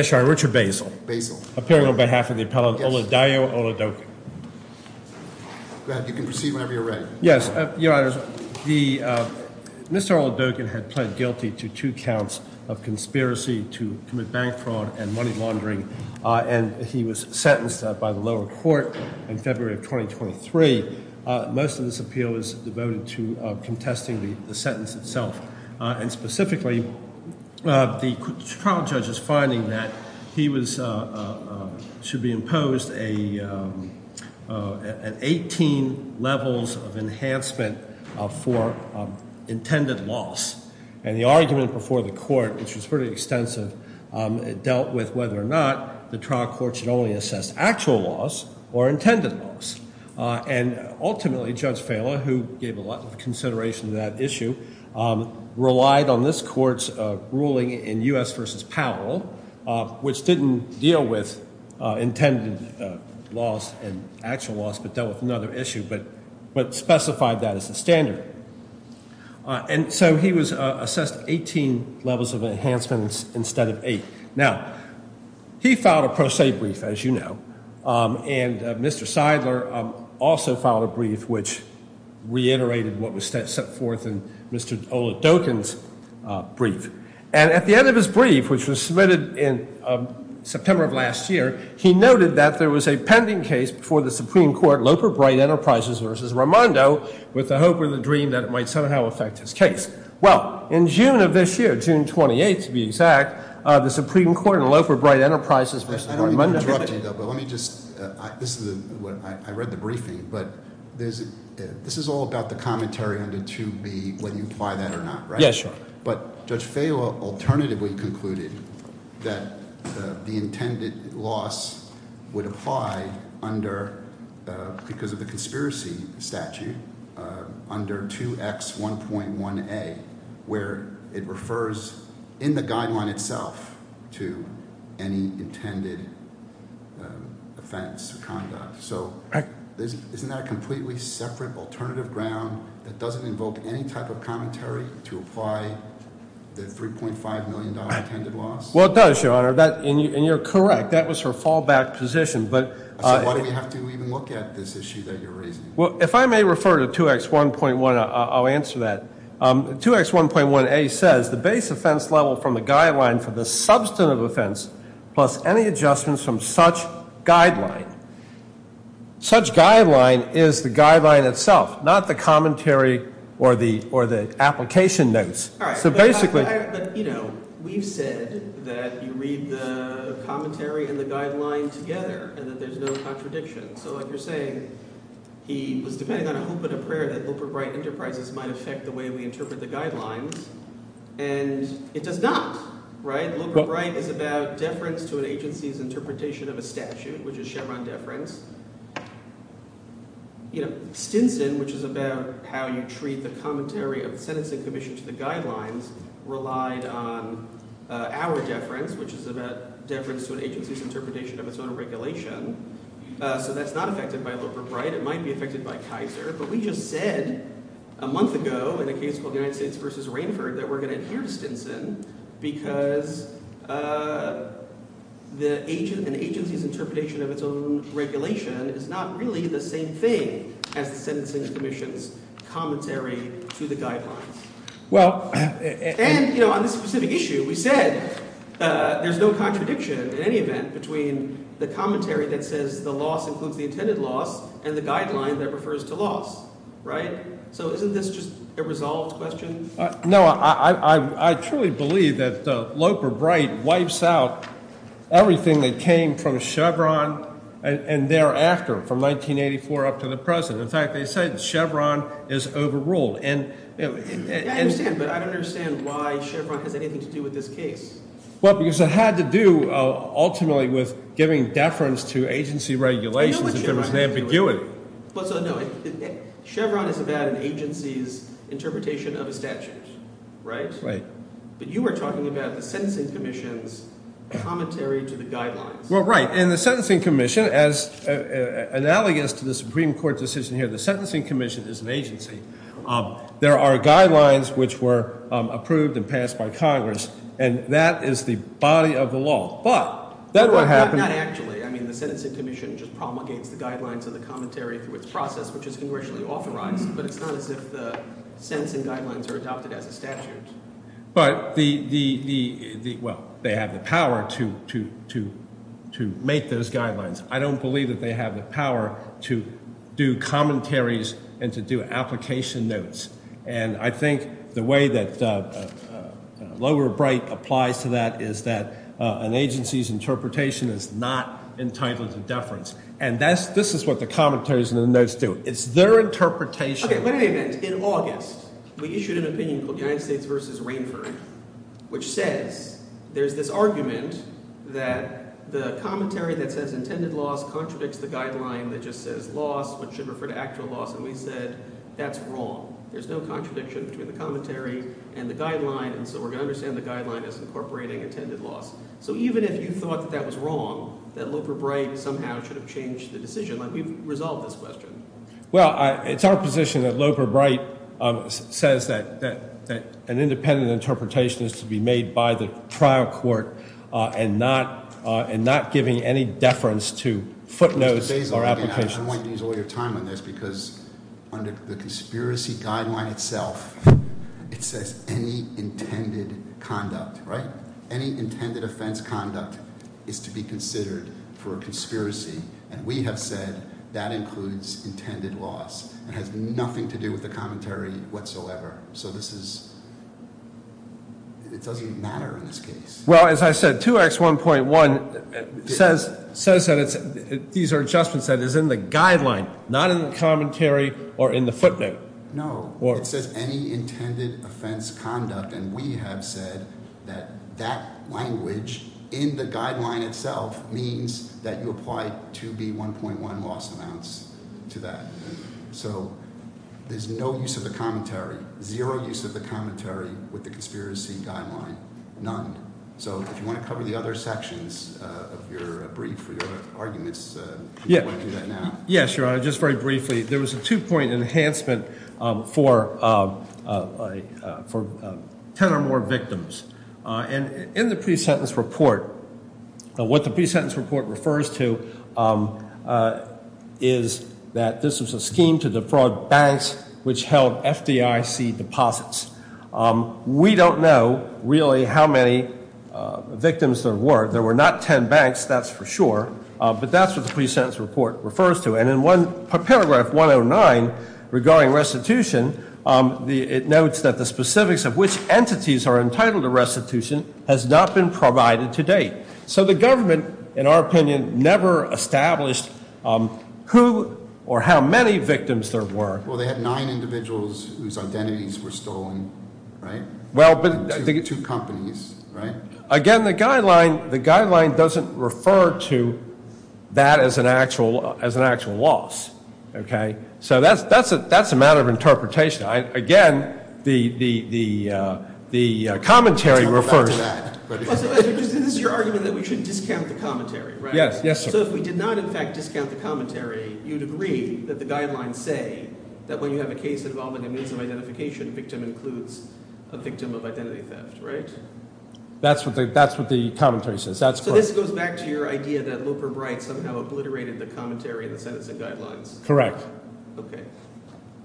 Mr. Richard Basile, appearing on behalf of the appellant Oladayo Oladokun. Go ahead. You can proceed whenever you're ready. Yes. Your Honor, Mr. Oladokun had pled guilty to two counts of conspiracy to commit bank fraud and money laundering, and he was sentenced by the lower court in February of 2023. Most of this appeal is devoted to contesting the sentence itself. And specifically, the trial judge is finding that he should be imposed an 18 levels of enhancement for intended loss. And the argument before the court, which was pretty extensive, dealt with whether or not the trial court should only assess actual loss or intended loss. And ultimately, Judge Fela, who gave a lot of consideration to that issue, relied on this court's ruling in U.S. v. Powell, which didn't deal with intended loss and actual loss, but dealt with another issue, but specified that as the standard. And so he was assessed 18 levels of enhancements instead of eight. Now, he filed a pro se brief, as you know, and Mr. Seidler also filed a brief which reiterated what was set forth in Mr. Oladokun's brief. And at the end of his brief, which was submitted in September of last year, he noted that there was a pending case before the Supreme Court, Loper Bright Enterprises v. Raimondo, with the hope or the dream that it might somehow affect his case. Well, in June of this year, June 28th to be exact, the Supreme Court in Loper Bright Enterprises v. Raimondo- I don't mean to interrupt you, though, but let me just- I read the briefing, but this is all about the commentary under 2B, whether you apply that or not, right? Yes, sir. But Judge Fehla alternatively concluded that the intended loss would apply under, because of the conspiracy statute, under 2X1.1A, where it refers in the guideline itself to any intended offense or conduct. So isn't that a completely separate alternative ground that doesn't invoke any type of commentary to apply the $3.5 million intended loss? Well, it does, Your Honor, and you're correct. That was her fallback position, but- So why do we have to even look at this issue that you're raising? Well, if I may refer to 2X1.1, I'll answer that. 2X1.1A says the base offense level from the guideline for the substantive offense plus any adjustments from such guideline. Such guideline is the guideline itself, not the commentary or the application notes. All right. So basically- But we've said that you read the commentary and the guideline together and that there's no contradiction. So like you're saying, he was depending on a hope and a prayer that Luper Bright Enterprises might affect the way we interpret the guidelines, and it does not. Luper Bright is about deference to an agency's interpretation of a statute, which is Chevron deference. Stinson, which is about how you treat the commentary of the sentencing commission to the guidelines, relied on our deference, which is about deference to an agency's interpretation of its own regulation. So that's not affected by Luper Bright. But we just said a month ago in a case called United States v. Rainford that we're going to adhere to Stinson because an agency's interpretation of its own regulation is not really the same thing as the sentencing commission's commentary to the guidelines. And on this specific issue, we said there's no contradiction in any event between the commentary that says the loss includes the intended loss and the guideline that refers to loss. Right? So isn't this just a resolved question? No, I truly believe that Luper Bright wipes out everything that came from Chevron and thereafter from 1984 up to the present. In fact, they say that Chevron is overruled. I understand, but I don't understand why Chevron has anything to do with this case. Well, because it had to do ultimately with giving deference to agency regulations in terms of ambiguity. No, Chevron is about an agency's interpretation of a statute. Right? Right. But you were talking about the sentencing commission's commentary to the guidelines. Well, right. In the sentencing commission, as analogous to the Supreme Court decision here, the sentencing commission is an agency. There are guidelines which were approved and passed by Congress, and that is the body of the law. But then what happened – Not actually. I mean the sentencing commission just promulgates the guidelines of the commentary through its process, which is congressionally authorized. But it's not as if the sentencing guidelines are adopted as a statute. But the – well, they have the power to make those guidelines. I don't believe that they have the power to do commentaries and to do application notes. And I think the way that Loewer-Bright applies to that is that an agency's interpretation is not entitled to deference. And this is what the commentaries and the notes do. It's their interpretation – In August, we issued an opinion called United States v. Rainford, which says there's this argument that the commentary that says intended loss contradicts the guideline that just says loss, which should refer to actual loss. And we said that's wrong. There's no contradiction between the commentary and the guideline, and so we're going to understand the guideline as incorporating intended loss. So even if you thought that that was wrong, that Loewer-Bright somehow should have changed the decision. We've resolved this question. Well, it's our position that Loewer-Bright says that an independent interpretation is to be made by the trial court and not giving any deference to footnotes or applications. I want you to use all your time on this because under the conspiracy guideline itself, it says any intended conduct, right? Any intended offense conduct is to be considered for a conspiracy. And we have said that includes intended loss. It has nothing to do with the commentary whatsoever. So this is – it doesn't even matter in this case. Well, as I said, 2X1.1 says that it's – these are adjustments that is in the guideline, not in the commentary or in the footnote. No. It says any intended offense conduct, and we have said that that language in the guideline itself means that you apply 2B1.1 loss amounts to that. So there's no use of the commentary, zero use of the commentary with the conspiracy guideline, none. So if you want to cover the other sections of your brief or your arguments, you can do that now. Yes, Your Honor, just very briefly. There was a two-point enhancement for 10 or more victims. And in the pre-sentence report, what the pre-sentence report refers to is that this was a scheme to defraud banks which held FDIC deposits. We don't know really how many victims there were. There were not 10 banks, that's for sure. But that's what the pre-sentence report refers to. And in paragraph 109 regarding restitution, it notes that the specifics of which entities are entitled to restitution has not been provided to date. So the government, in our opinion, never established who or how many victims there were. Well, they had nine individuals whose identities were stolen, right? Well, but – Two companies, right? Again, the guideline doesn't refer to that as an actual loss, okay? So that's a matter of interpretation. Again, the commentary refers to that. This is your argument that we should discount the commentary, right? Yes. So if we did not, in fact, discount the commentary, you'd agree that the guidelines say that when you have a case involving a means of identification, victim includes a victim of identity theft, right? That's what the commentary says. So this goes back to your idea that Looper Bright somehow obliterated the commentary in the sentencing guidelines? Correct. Okay.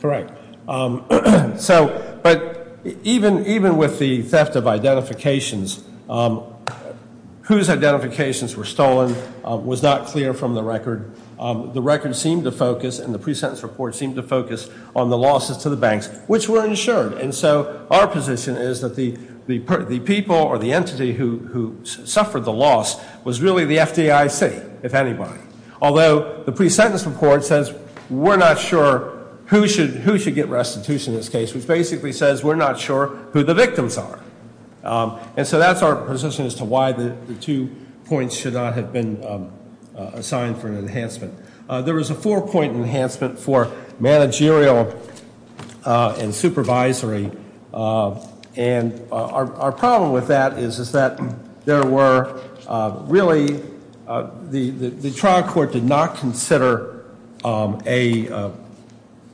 Correct. So – but even with the theft of identifications, whose identifications were stolen was not clear from the record. The record seemed to focus and the pre-sentence report seemed to focus on the losses to the banks, which were insured. And so our position is that the people or the entity who suffered the loss was really the FDIC, if anybody. Although the pre-sentence report says we're not sure who should get restitution in this case, which basically says we're not sure who the victims are. And so that's our position as to why the two points should not have been assigned for an enhancement. There was a four-point enhancement for managerial and supervisory. And our problem with that is that there were really – the trial court did not consider a –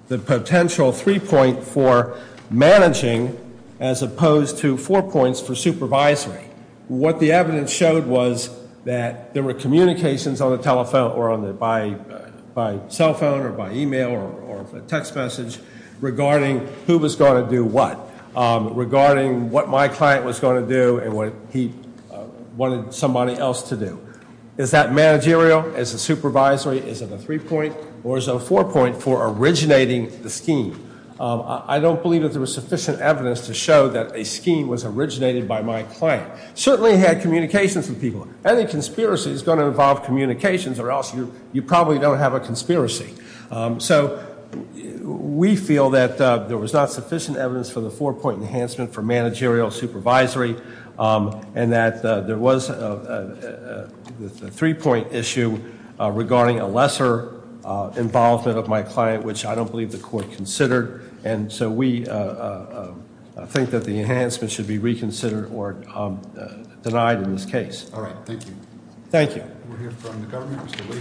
the potential three-point for managing as opposed to four points for supervisory. What the evidence showed was that there were communications on the telephone or on the – by cell phone or by e-mail or a text message regarding who was going to do what, regarding what my client was going to do and what he wanted somebody else to do. Is that managerial? Is it supervisory? Is it a three-point or is it a four-point for originating the scheme? I don't believe that there was sufficient evidence to show that a scheme was originated by my client. Certainly had communications with people. Any conspiracy is going to involve communications or else you probably don't have a conspiracy. So we feel that there was not sufficient evidence for the four-point enhancement for managerial, supervisory, and that there was a three-point issue regarding a lesser involvement of my client, which I don't believe the court considered. And so we think that the enhancement should be reconsidered or denied in this case. All right. Thank you. Thank you. We'll hear from the government, Mr. Lee.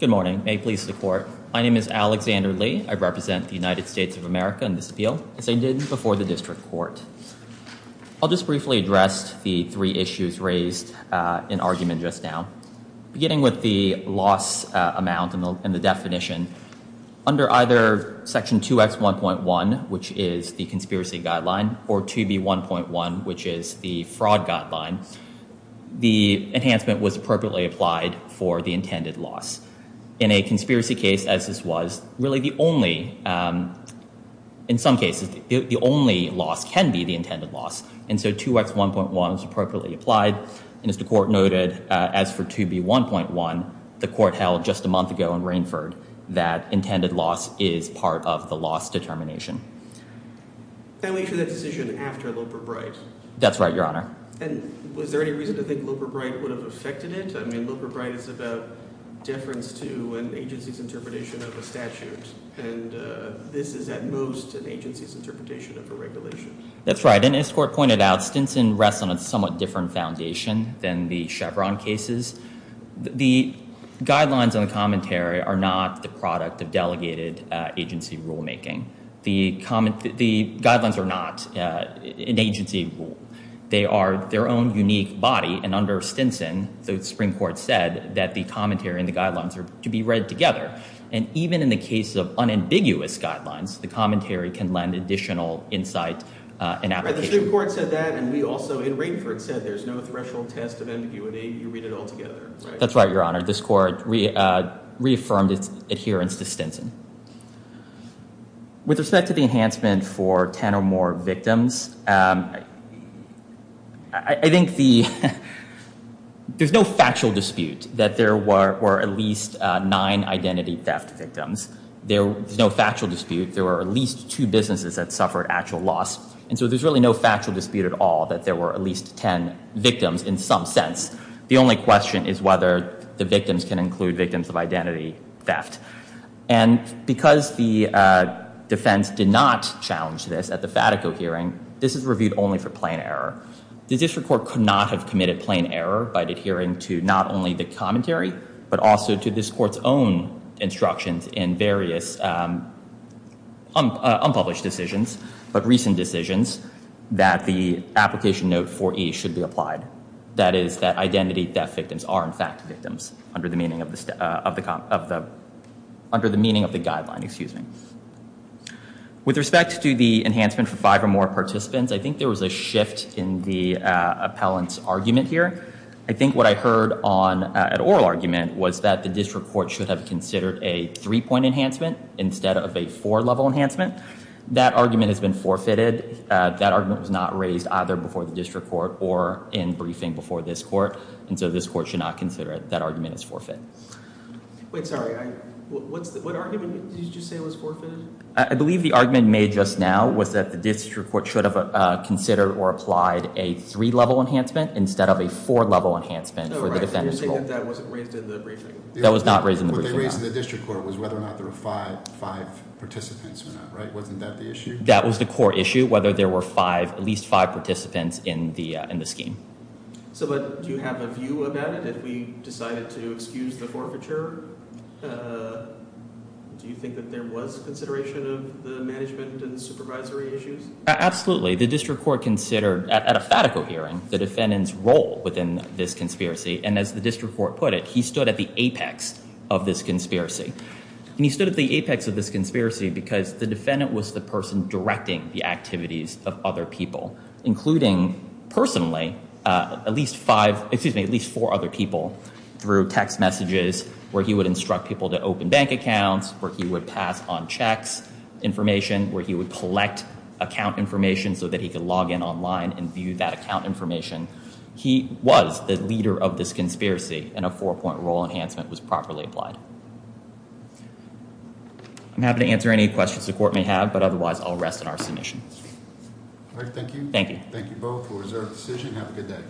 Good morning. May it please the court. My name is Alexander Lee. I represent the United States of America in this appeal as I did before the district court. I'll just briefly address the three issues raised in argument just now. Beginning with the loss amount and the definition, under either Section 2X1.1, which is the conspiracy guideline, or 2B1.1, which is the fraud guideline, the enhancement was appropriately applied for the intended loss. In a conspiracy case, as this was, really the only, in some cases, the only loss can be the intended loss. And so 2X1.1 was appropriately applied, and as the court noted, as for 2B1.1, the court held just a month ago in Rainford that intended loss is part of the loss determination. And we hear that decision after Loper-Bright. That's right, Your Honor. And was there any reason to think Loper-Bright would have affected it? I mean, Loper-Bright is about deference to an agency's interpretation of a statute. And this is, at most, an agency's interpretation of a regulation. That's right. And as the court pointed out, Stinson rests on a somewhat different foundation than the Chevron cases. The guidelines and the commentary are not the product of delegated agency rulemaking. The guidelines are not an agency rule. They are their own unique body, and under Stinson, the Supreme Court said that the commentary and the guidelines are to be read together. And even in the case of unambiguous guidelines, the commentary can lend additional insight and application. The Supreme Court said that, and we also, in Rainford, said there's no threshold test of ambiguity. You read it all together. That's right, Your Honor. This court reaffirmed its adherence to Stinson. With respect to the enhancement for ten or more victims, I think there's no factual dispute that there were at least nine identity theft victims. There's no factual dispute. There were at least two businesses that suffered actual loss. And so there's really no factual dispute at all that there were at least ten victims in some sense. The only question is whether the victims can include victims of identity theft. And because the defense did not challenge this at the Fatico hearing, this is reviewed only for plain error. The district court could not have committed plain error by adhering to not only the commentary, but also to this court's own instructions in various unpublished decisions, but recent decisions, that the application note 4E should be applied. That is that identity theft victims are in fact victims under the meaning of the guideline. With respect to the enhancement for five or more participants, I think there was a shift in the appellant's argument here. I think what I heard at oral argument was that the district court should have considered a three-point enhancement instead of a four-level enhancement. That argument has been forfeited. That argument was not raised either before the district court or in briefing before this court. And so this court should not consider it. That argument is forfeit. Wait, sorry. What argument did you say was forfeited? I believe the argument made just now was that the district court should have considered or applied a three-level enhancement instead of a four-level enhancement for the defendant's fault. No, right. You're saying that that wasn't raised in the briefing. That was not raised in the briefing. What they raised in the district court was whether or not there were five participants or not, right? Wasn't that the issue? That was the core issue, whether there were five, at least five participants in the scheme. So do you have a view about it? If we decided to excuse the forfeiture, do you think that there was consideration of the management and supervisory issues? Absolutely. The district court considered at a fatico hearing the defendant's role within this conspiracy. And as the district court put it, he stood at the apex of this conspiracy. And he stood at the apex of this conspiracy because the defendant was the person directing the activities of other people, including personally at least four other people through text messages, where he would instruct people to open bank accounts, where he would pass on checks information, where he would collect account information so that he could log in online and view that account information. He was the leader of this conspiracy, and a four-point rule enhancement was properly applied. I'm happy to answer any questions the court may have, but otherwise I'll rest in our submission. All right, thank you. Thank you. Thank you both for a reserved decision. Have a good day.